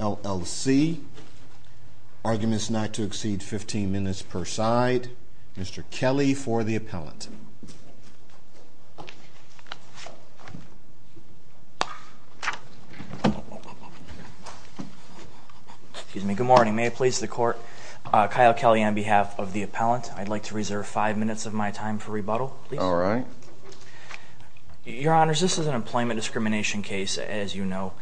L.L.C. Arguments not to exceed 15 minutes per side. Mr. Kelly for the appellant. Good morning. May it please the court. Kyle Kelly. I'm here on behalf of the appellant. I'd like to reserve five minutes of my time for rebuttal. All right. Your Honor, this is an employment discrimination case as you know.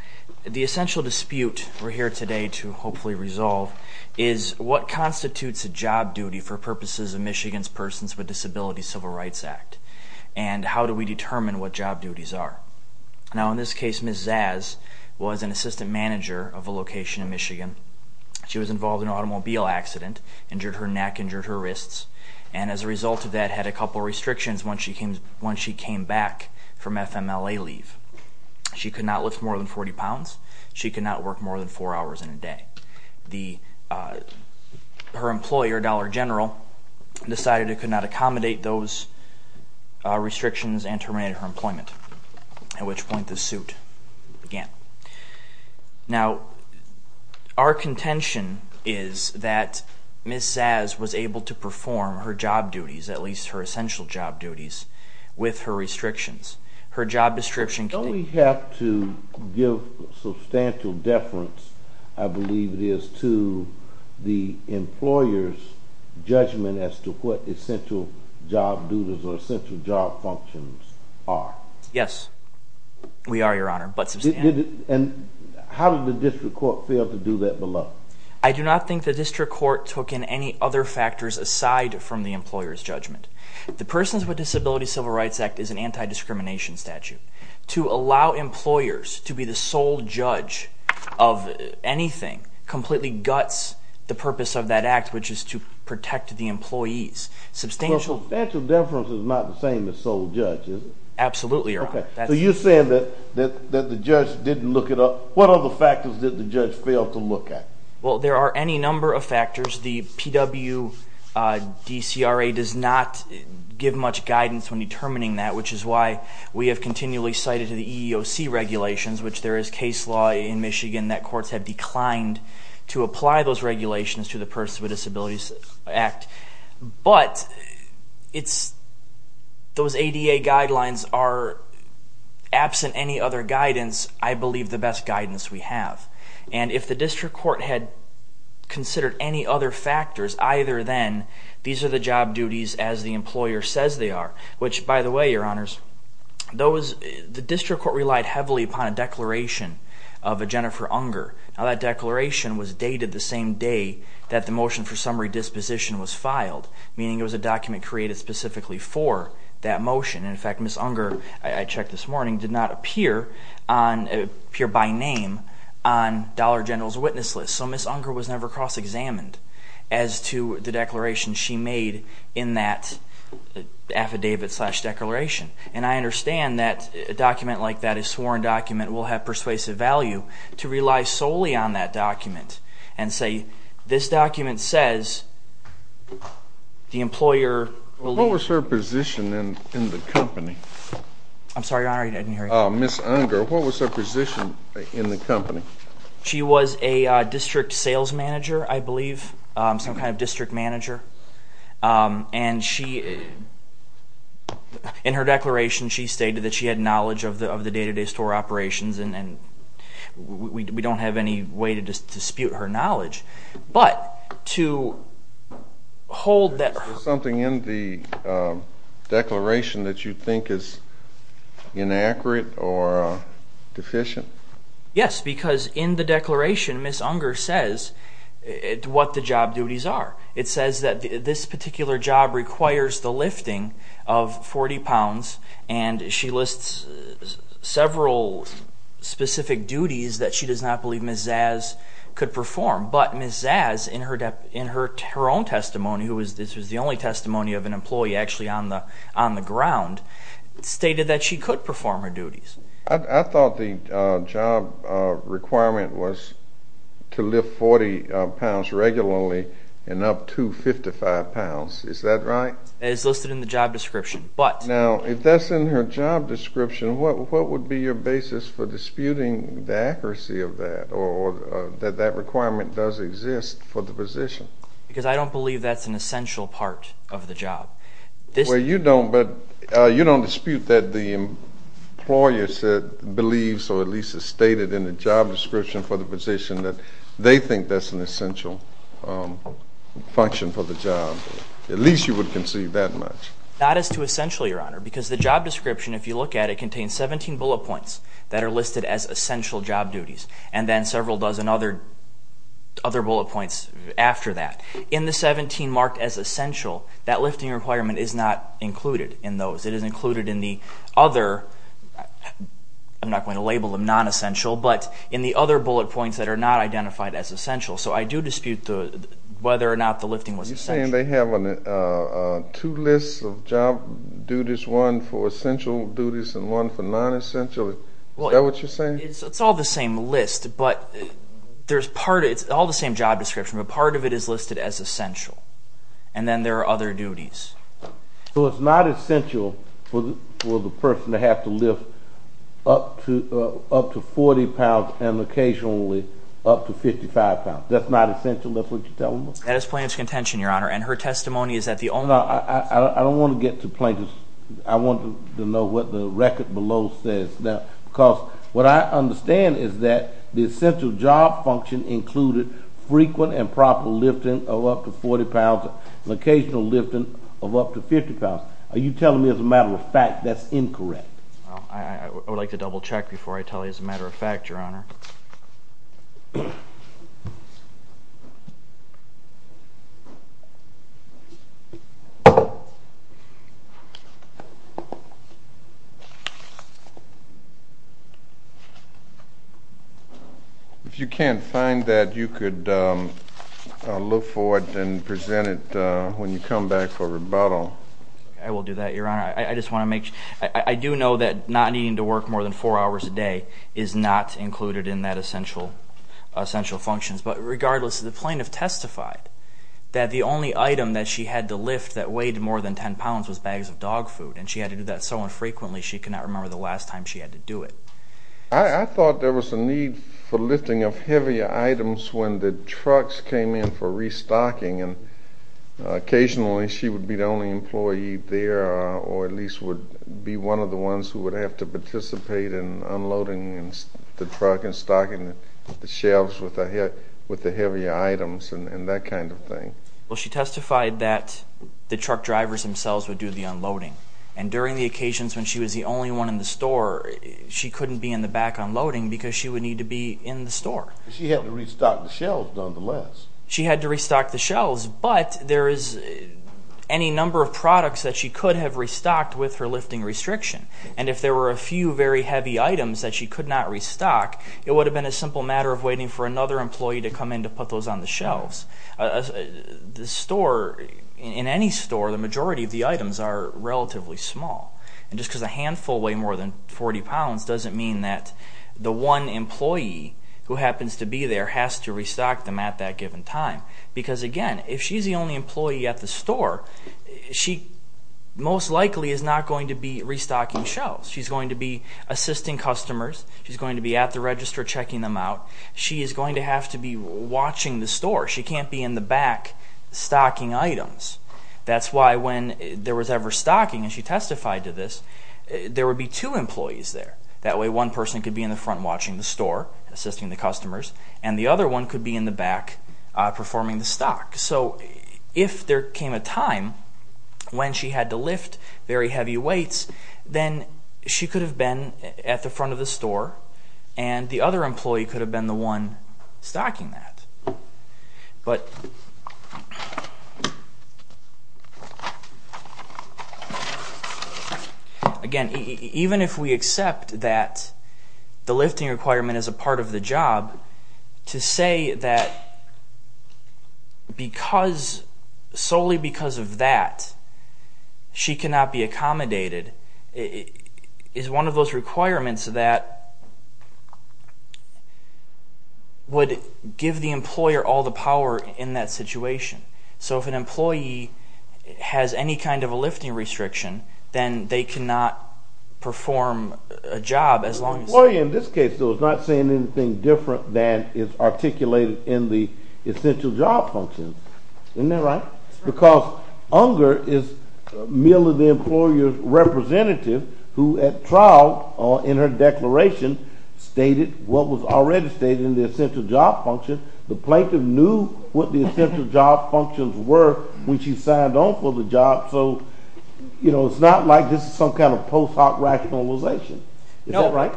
The essential dispute we're here today to hopefully resolve is what constitutes a job duty for purposes of Michigan's Persons with Disabilities Civil Rights Act and how do we determine what job duties are. Now in this case Ms. Szasz was an assistant manager of a location in Michigan. She was involved in an automobile accident, injured her neck, injured her wrists, and as a result of that had a couple restrictions once she came back from FMLA leave. She could not lift more than 40 pounds. She could not work more than four hours in a day. Her employer, Dollar General, decided it could not accommodate those restrictions and terminated her employment, at which point the suit began. Now our contention is that Ms. Szasz was able to perform her job duties, at least her essential job duties, with her restrictions. Her job description... Don't we have to give substantial deference, I believe it is, to the employer's judgment as to what essential job duties or essential job functions are? Yes, we are, Your Honor, but substantial. And how did the District Court fail to do that below? I do not think the District Court took in any other factors aside from the employer's judgment. The Persons with Disabilities Civil Rights Act is an anti-discrimination statute. To allow employers to be the sole judge of anything completely guts the purpose of that act, which is to protect the employees. Substantial deference is not the same as sole judge, is it? Absolutely, Your Honor. So you're saying that the judge didn't look it up. What other factors did the judge fail to look at? Well, there are any number of factors. The PW DCRA does not give much guidance when determining that, which is why we have continually cited the EEOC regulations, which there is case law in Michigan that courts have declined to Those ADA guidelines are, absent any other guidance, I believe the best guidance we have. And if the District Court had considered any other factors either then, these are the job duties as the employer says they are. Which, by the way, Your Honors, the District Court relied heavily upon a declaration of a Jennifer Unger. Now that declaration was dated the same day that the motion for summary disposition was filed. Meaning it was a document created specifically for that motion. In fact, Ms. Unger, I checked this morning, did not appear by name on Dollar General's witness list. So Ms. Unger was never cross-examined as to the declaration she made in that affidavit slash declaration. And I understand that a document like that, a sworn document, will have persuasive value to rely solely on that document and say this document says the employer What was her position in the company? I'm sorry, Your Honor, I didn't hear you. Ms. Unger, what was her position in the company? She was a district sales manager, I believe. Some kind of district manager. And she, in her declaration she stated that she had knowledge of the day-to-day store operations and we don't have any way to dispute her knowledge. But, to hold that... Is there something in the declaration that you think is inaccurate or deficient? Yes, because in the declaration Ms. Unger says what the job duties are. It says that this particular job requires the lifting of 40 pounds and she lists several specific duties that she does not believe Ms. Zazz could perform. But Ms. Zazz in her own testimony, this was the only testimony of an employee actually on the ground, stated that she could perform her duties. I thought the job requirement was to lift 40 pounds regularly and up to 55 pounds. Is that right? It's listed in the job description. Now, if that's in her job description, what would be your basis for disputing the accuracy of that or that that requirement does exist for the position? Because I don't believe that's an essential part of the job. Well, you don't, but you don't dispute that the employer believes or at least has stated in the job description for the position that they think that's an essential function for the job. At least you would conceive that much. Not as to essential, Your Honor, because the job description, if you look at it, it contains 17 bullet points that are listed as essential job duties and then several dozen other bullet points after that. In the 17 marked as essential, that lifting requirement is not included in those. It is included in the other, I'm not going to label them non-essential, but in the other bullet points that are not identified as essential. So I do dispute whether or not the lifting was essential. You're saying they have two lists of job duties, one for essential duties and one for non-essential. Is that what you're saying? It's all the same list, but there's part, it's all the same job description, but part of it is listed as essential. And then there are other duties. So it's not essential for the person to have to lift up to 40 pounds and occasionally up to 55 pounds. That's not essential, that's what you're telling me? That is plaintiff's contention, Your Honor, and her testimony is that the only... I don't want to get to plaintiff's, I want to know what the record below says. Because what I understand is that the essential job function included frequent and proper lifting of up to 40 pounds and occasional lifting of up to 50 pounds. Are you telling me as a matter of fact that's incorrect? I would like to double check before I tell you as a matter of fact, Your Honor. If you can't find that, you could look for it and present it when you come back for rebuttal. I will do that, Your Honor. I just want to make sure. I do know that not needing to work more than four hours a day is not included in that essential function. But regardless, the plaintiff testified that the only item that she had to lift that weighed more than 10 pounds was bags of dog food, and she had to do that so infrequently she cannot remember the last time she had to do it. I thought there was a need for lifting of heavier items when the trucks came in for restocking, and occasionally she would be the only employee there or at least would be one of the ones who would have to participate in unloading the truck and stocking the shelves with the heavier items and that kind of thing. Well, she testified that the truck drivers themselves would do the unloading, and during the occasions when she was the only one in the store, she couldn't be in the back unloading because she would need to be in the store. She had to restock the shelves nonetheless. She had to restock the shelves, but there is any number of products that she could have restocked with her lifting restriction, and if there were a few very heavy items that she could not restock, it would have been a simple matter of waiting for another employee to come in to put those on the shelves. The store, in any store, the majority of the items are relatively small, and just because a handful weigh more than 40 pounds doesn't mean that the one employee who happens to be there has to restock them at that given time because, again, if she's the only employee at the store, she most likely is not going to be restocking shelves. She's going to be assisting customers. She's going to be at the register checking them out. She is going to have to be watching the store. She can't be in the back stocking items. That's why when there was ever stocking, and she testified to this, there would be two employees there. That way one person could be in the front watching the store, assisting the customers, and the other one could be in the back performing the stock. So if there came a time when she had to lift very heavy weights, then she could have been at the front of the store, and the other employee could have been the one stocking that. But, again, even if we accept that the lifting requirement is a part of the job, to say that solely because of that she cannot be accommodated is one of those requirements that would give the employer all the power in that situation. So if an employee has any kind of a lifting restriction, then they cannot perform a job as long as... The employee in this case, though, is not saying anything different than is articulated in the essential job function. Isn't that right? Because Unger is merely the employer's representative who at trial, in her declaration, stated what was already stated in the essential job function. The plaintiff knew what the essential job functions were when she signed on for the job, so it's not like this is some kind of post hoc rationalization. Is that right?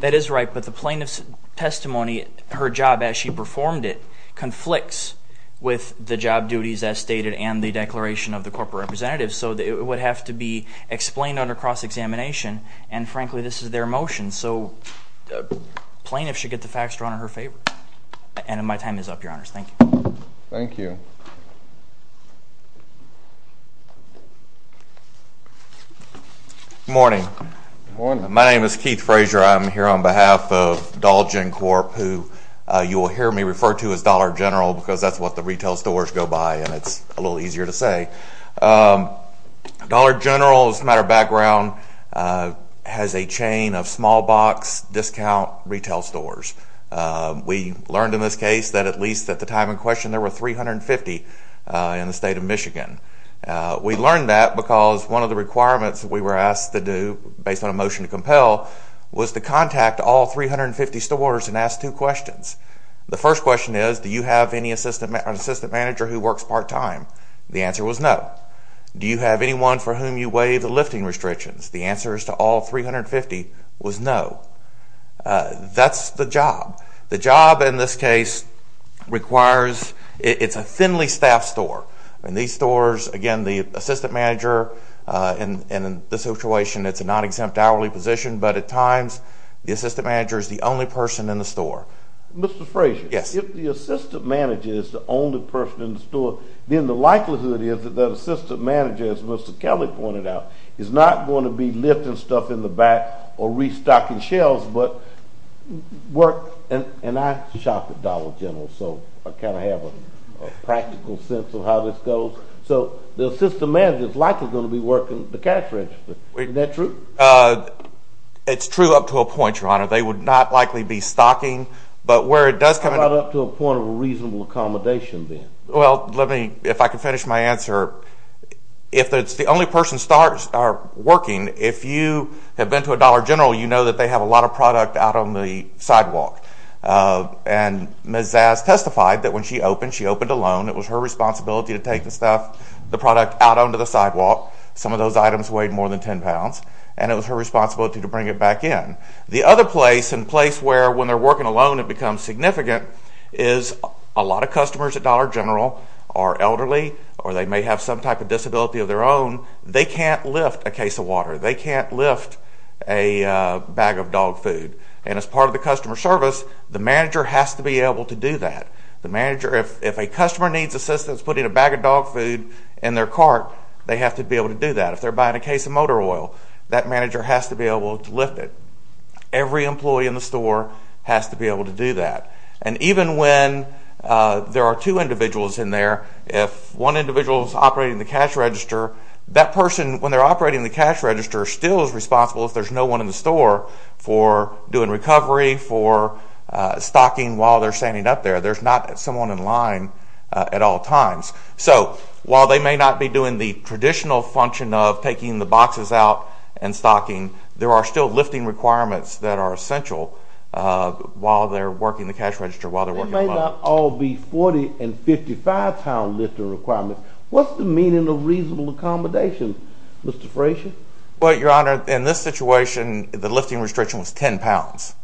That is right, but the plaintiff's testimony, her job as she performed it, conflicts with the job duties as stated and the declaration of the corporate representative, so it would have to be explained under cross-examination, and, frankly, this is their motion. So plaintiffs should get the facts drawn in her favor. And my time is up, Your Honors. Thank you. Thank you. Good morning. Good morning. My name is Keith Frazier. I'm here on behalf of Dolgen Corp., who you will hear me refer to as Dollar General because that's what the retail stores go by, and it's a little easier to say. Dollar General, as a matter of background, has a chain of small box discount retail stores. We learned in this case that at least at the time in question there were 350 in the state of Michigan. We learned that because one of the requirements we were asked to do, based on a motion to compel, was to contact all 350 stores and ask two questions. The first question is, do you have an assistant manager who works part-time? The answer was no. Do you have anyone for whom you waive the lifting restrictions? The answer to all 350 was no. That's the job. The job in this case requires, it's a thinly staffed store, and these stores, again, the assistant manager, and in this situation it's a non-exempt hourly position, but at times the assistant manager is the only person in the store. Mr. Frazier. Yes. If the assistant manager is the only person in the store, then the likelihood is that that assistant manager, as Mr. Kelly pointed out, is not going to be lifting stuff in the back or restocking shelves but work. And I shop at Dollar General, so I kind of have a practical sense of how this goes. So the assistant manager is likely going to be working the cash register. Isn't that true? It's true up to a point, Your Honor. They would not likely be stocking. How about up to a point of reasonable accommodation then? Well, let me, if I can finish my answer. If it's the only person working, if you have been to a Dollar General, you know that they have a lot of product out on the sidewalk. And Ms. Zaz testified that when she opened, she opened alone. It was her responsibility to take the stuff, the product, out onto the sidewalk. Some of those items weighed more than 10 pounds, and it was her responsibility to bring it back in. The other place and place where when they're working alone it becomes significant is a lot of customers at Dollar General are elderly or they may have some type of disability of their own. They can't lift a case of water. They can't lift a bag of dog food. And as part of the customer service, the manager has to be able to do that. The manager, if a customer needs assistance putting a bag of dog food in their cart, they have to be able to do that. If they're buying a case of motor oil, that manager has to be able to lift it. Every employee in the store has to be able to do that. And even when there are two individuals in there, if one individual is operating the cash register, that person, when they're operating the cash register, still is responsible if there's no one in the store for doing recovery, for stocking while they're standing up there. There's not someone in line at all times. So while they may not be doing the traditional function of taking the boxes out and stocking, there are still lifting requirements that are essential while they're working the cash register, while they're working alone. They may not all be 40- and 55-pound lifting requirements. What's the meaning of reasonable accommodation, Mr. Frazier? Well, Your Honor, in this situation, the lifting restriction was 10 pounds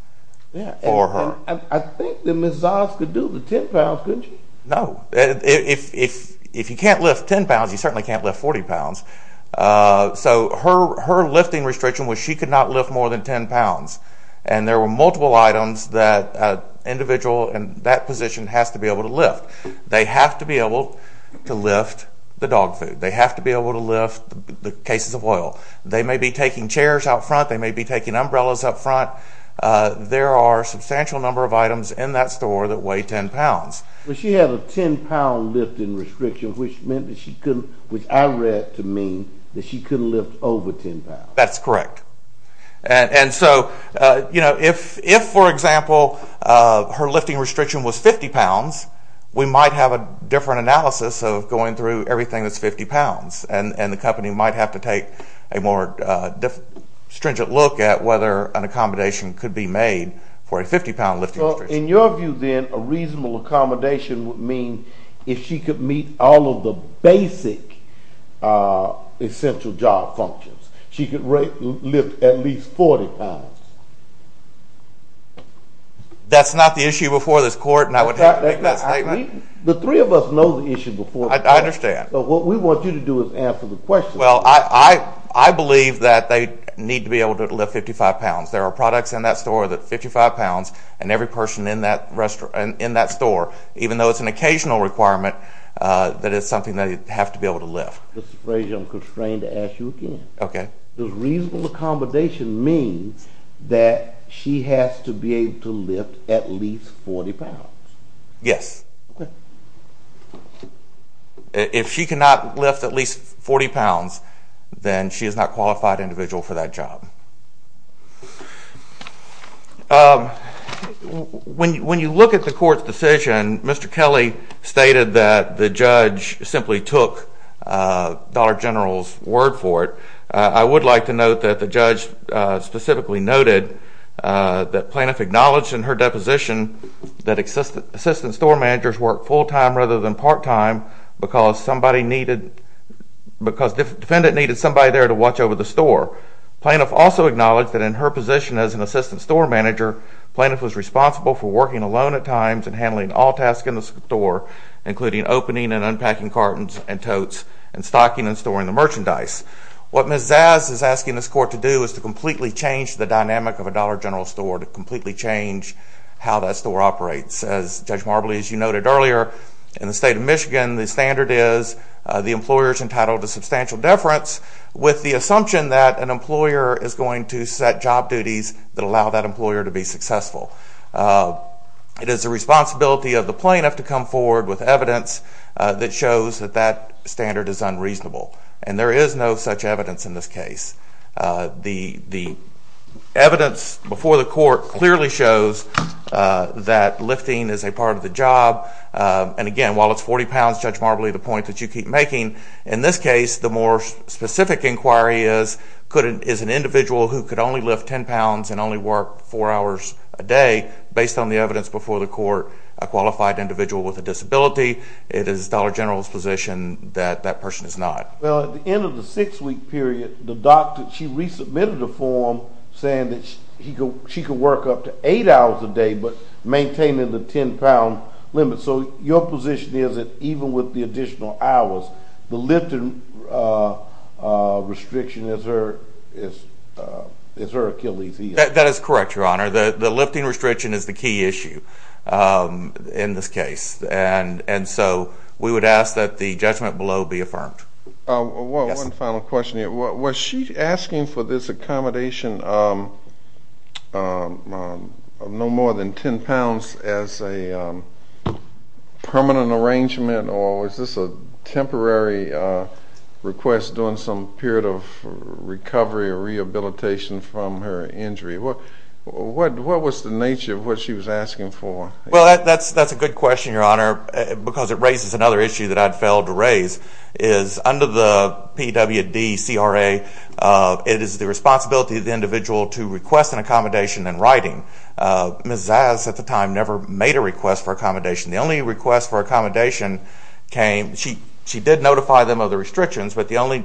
for her. I think that Ms. Zoss could do the 10 pounds, couldn't she? No. If you can't lift 10 pounds, you certainly can't lift 40 pounds. So her lifting restriction was she could not lift more than 10 pounds. And there were multiple items that an individual in that position has to be able to lift. They have to be able to lift the dog food. They have to be able to lift the cases of oil. They may be taking chairs out front. They may be taking umbrellas out front. There are a substantial number of items in that store that weigh 10 pounds. But she had a 10-pound lifting restriction, which meant that she couldn't, which I read to mean that she couldn't lift over 10 pounds. That's correct. And so, you know, if, for example, her lifting restriction was 50 pounds, we might have a different analysis of going through everything that's 50 pounds, and the company might have to take a more stringent look at whether an accommodation could be made for a 50-pound lifting restriction. Well, in your view, then, a reasonable accommodation would mean if she could meet all of the basic essential job functions. She could lift at least 40 pounds. That's not the issue before this court, and I would have to make that statement. The three of us know the issue before this court. I understand. But what we want you to do is answer the question. Well, I believe that they need to be able to lift 55 pounds. There are products in that store that are 55 pounds, and every person in that store, even though it's an occasional requirement, that it's something they have to be able to lift. Mr. Frazier, I'm constrained to ask you again. Okay. Does reasonable accommodation mean that she has to be able to lift at least 40 pounds? Yes. If she cannot lift at least 40 pounds, then she is not a qualified individual for that job. When you look at the court's decision, Mr. Kelly stated that the judge simply took Dollar General's word for it. I would like to note that the judge specifically noted that Plaintiff acknowledged in her deposition that assistant store managers work full-time rather than part-time because defendant needed somebody there to watch over the store. Plaintiff also acknowledged that in her position as an assistant store manager, Plaintiff was responsible for working alone at times and handling all tasks in the store, including opening and unpacking cartons and totes and stocking and storing the merchandise. What Ms. Zaz is asking this court to do is to completely change the dynamic of a Dollar General store, to completely change how that store operates. As Judge Marbley, as you noted earlier, in the state of Michigan, the standard is the employer is entitled to substantial deference with the assumption that an employer is going to set job duties that allow that employer to be successful. It is the responsibility of the plaintiff to come forward with evidence that shows that that standard is unreasonable. And there is no such evidence in this case. The evidence before the court clearly shows that lifting is a part of the job. And again, while it's 40 pounds, Judge Marbley, the point that you keep making, in this case, the more specific inquiry is an individual who could only lift 10 pounds and only work four hours a day based on the evidence before the court, a qualified individual with a disability. It is Dollar General's position that that person is not. Well, at the end of the six-week period, the doctor, she resubmitted a form saying that she could work up to eight hours a day but maintaining the 10-pound limit. So your position is that even with the additional hours, the lifting restriction is her Achilles' heel? That is correct, Your Honor. The lifting restriction is the key issue in this case. And so we would ask that the judgment below be affirmed. One final question here. Was she asking for this accommodation of no more than 10 pounds as a permanent arrangement or was this a temporary request during some period of recovery or rehabilitation from her injury? What was the nature of what she was asking for? Well, that's a good question, Your Honor, because it raises another issue that I'd failed to raise, is under the PWD CRA, it is the responsibility of the individual to request an accommodation in writing. Ms. Zaz at the time never made a request for accommodation. The only request for accommodation came, she did notify them of the restrictions, but the only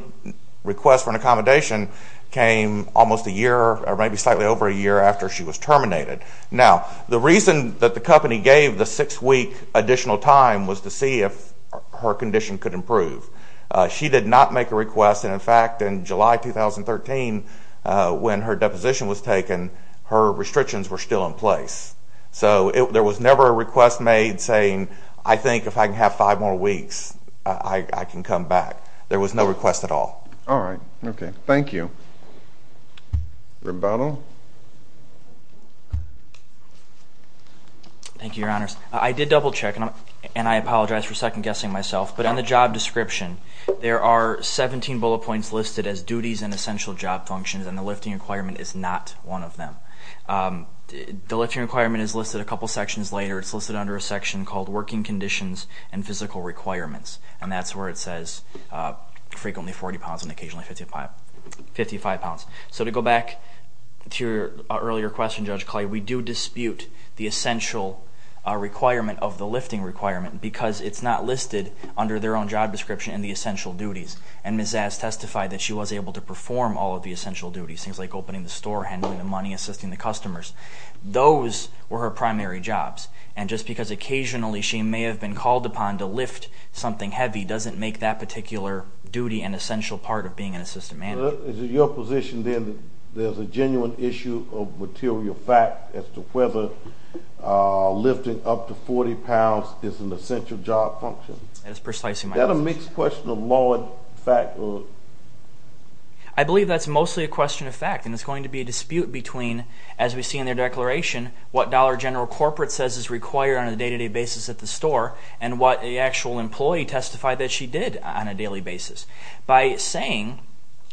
request for an accommodation came almost a year or maybe slightly over a year after she was terminated. Now, the reason that the company gave the six-week additional time was to see if her condition could improve. She did not make a request. And, in fact, in July 2013, when her deposition was taken, her restrictions were still in place. So there was never a request made saying, I think if I can have five more weeks, I can come back. There was no request at all. All right. Okay. Thank you. Rebuttal. Thank you, Your Honors. I did double-check, and I apologize for second-guessing myself. But on the job description, there are 17 bullet points listed as duties and essential job functions, and the lifting requirement is not one of them. The lifting requirement is listed a couple sections later. It's listed under a section called Working Conditions and Physical Requirements, and that's where it says frequently 40 pounds and occasionally 55 pounds. So to go back to your earlier question, Judge Clay, we do dispute the essential requirement of the lifting requirement because it's not listed under their own job description in the essential duties. And Ms. Zass testified that she was able to perform all of the essential duties, things like opening the store, handling the money, assisting the customers. Those were her primary jobs. And just because occasionally she may have been called upon to lift something heavy doesn't make that particular duty an essential part of being an assistant manager. Is it your position, then, that there's a genuine issue of material fact as to whether lifting up to 40 pounds is an essential job function? That is precisely my question. Is that a mixed question of law and fact? I believe that's mostly a question of fact, and there's going to be a dispute between, as we see in their declaration, what Dollar General Corporate says is required on a day-to-day basis at the store and what the actual employee testified that she did on a daily basis. By saying,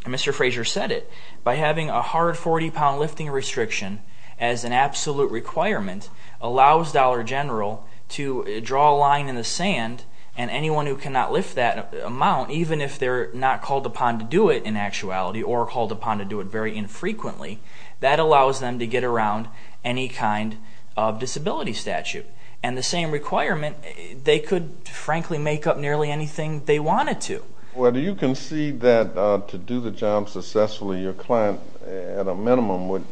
and Mr. Fraser said it, by having a hard 40-pound lifting restriction as an absolute requirement allows Dollar General to draw a line in the sand, and anyone who cannot lift that amount, even if they're not called upon to do it in actuality or called upon to do it very infrequently, that allows them to get around any kind of disability statute. And the same requirement, they could, frankly, make up nearly anything they wanted to. Well, do you concede that to do the job successfully, your client at a minimum would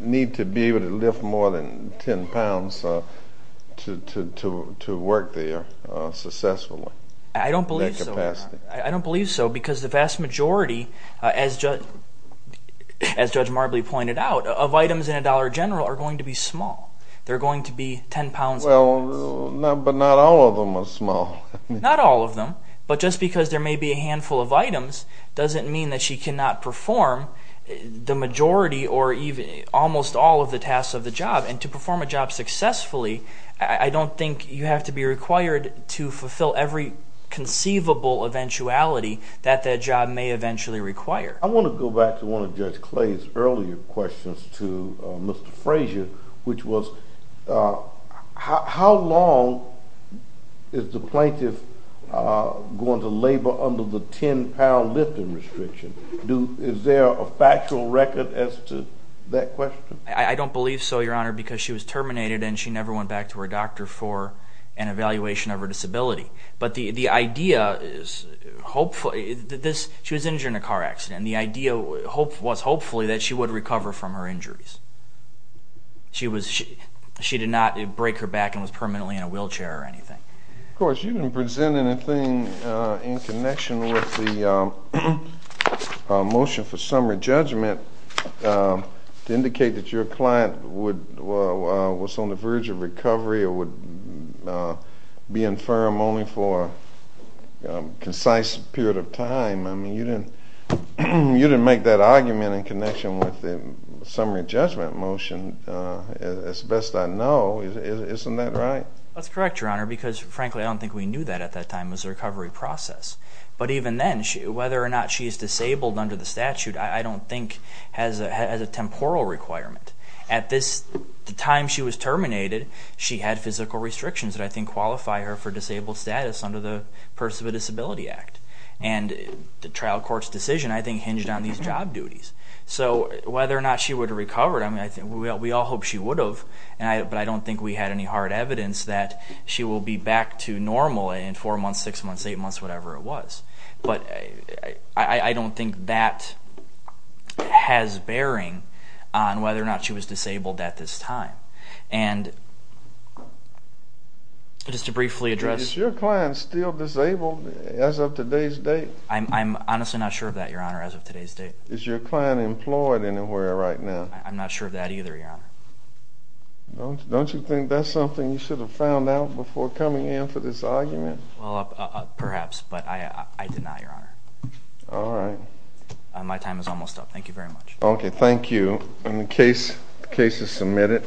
need to be able to lift more than 10 pounds to work there successfully? I don't believe so. I don't believe so because the vast majority, as Judge Marbley pointed out, of items in a Dollar General are going to be small. They're going to be 10 pounds. Well, but not all of them are small. Not all of them. But just because there may be a handful of items doesn't mean that she cannot perform the majority or almost all of the tasks of the job. And to perform a job successfully, I don't think you have to be required to fulfill every conceivable eventuality that that job may eventually require. I want to go back to one of Judge Clay's earlier questions to Mr. Frazier, which was how long is the plaintiff going to labor under the 10-pound lifting restriction? Is there a factual record as to that question? I don't believe so, Your Honor, because she was terminated and she never went back to her doctor for an evaluation of her disability. But the idea is that she was injured in a car accident, and the idea was hopefully that she would recover from her injuries. She did not break her back and was permanently in a wheelchair or anything. Of course, you didn't present anything in connection with the motion for summary judgment to indicate that your client was on the verge of recovery or would be infirm only for a concise period of time. I mean, you didn't make that argument in connection with the summary judgment motion. As best I know, isn't that right? That's correct, Your Honor, because, frankly, I don't think we knew that at that time. It was a recovery process. But even then, whether or not she is disabled under the statute, I don't think has a temporal requirement. At the time she was terminated, she had physical restrictions that I think qualify her for disabled status under the Person with Disability Act. And the trial court's decision, I think, hinged on these job duties. So whether or not she would have recovered, I mean, we all hope she would have, but I don't think we had any hard evidence that she will be back to normal in four months, six months, eight months, whatever it was. But I don't think that has bearing on whether or not she was disabled at this time. And just to briefly address... Is your client still disabled as of today's date? I'm honestly not sure of that, Your Honor, as of today's date. Is your client employed anywhere right now? I'm not sure of that either, Your Honor. Don't you think that's something you should have found out before coming in for this argument? Well, perhaps, but I deny, Your Honor. All right. My time is almost up. Thank you very much. Okay, thank you. Case is submitted.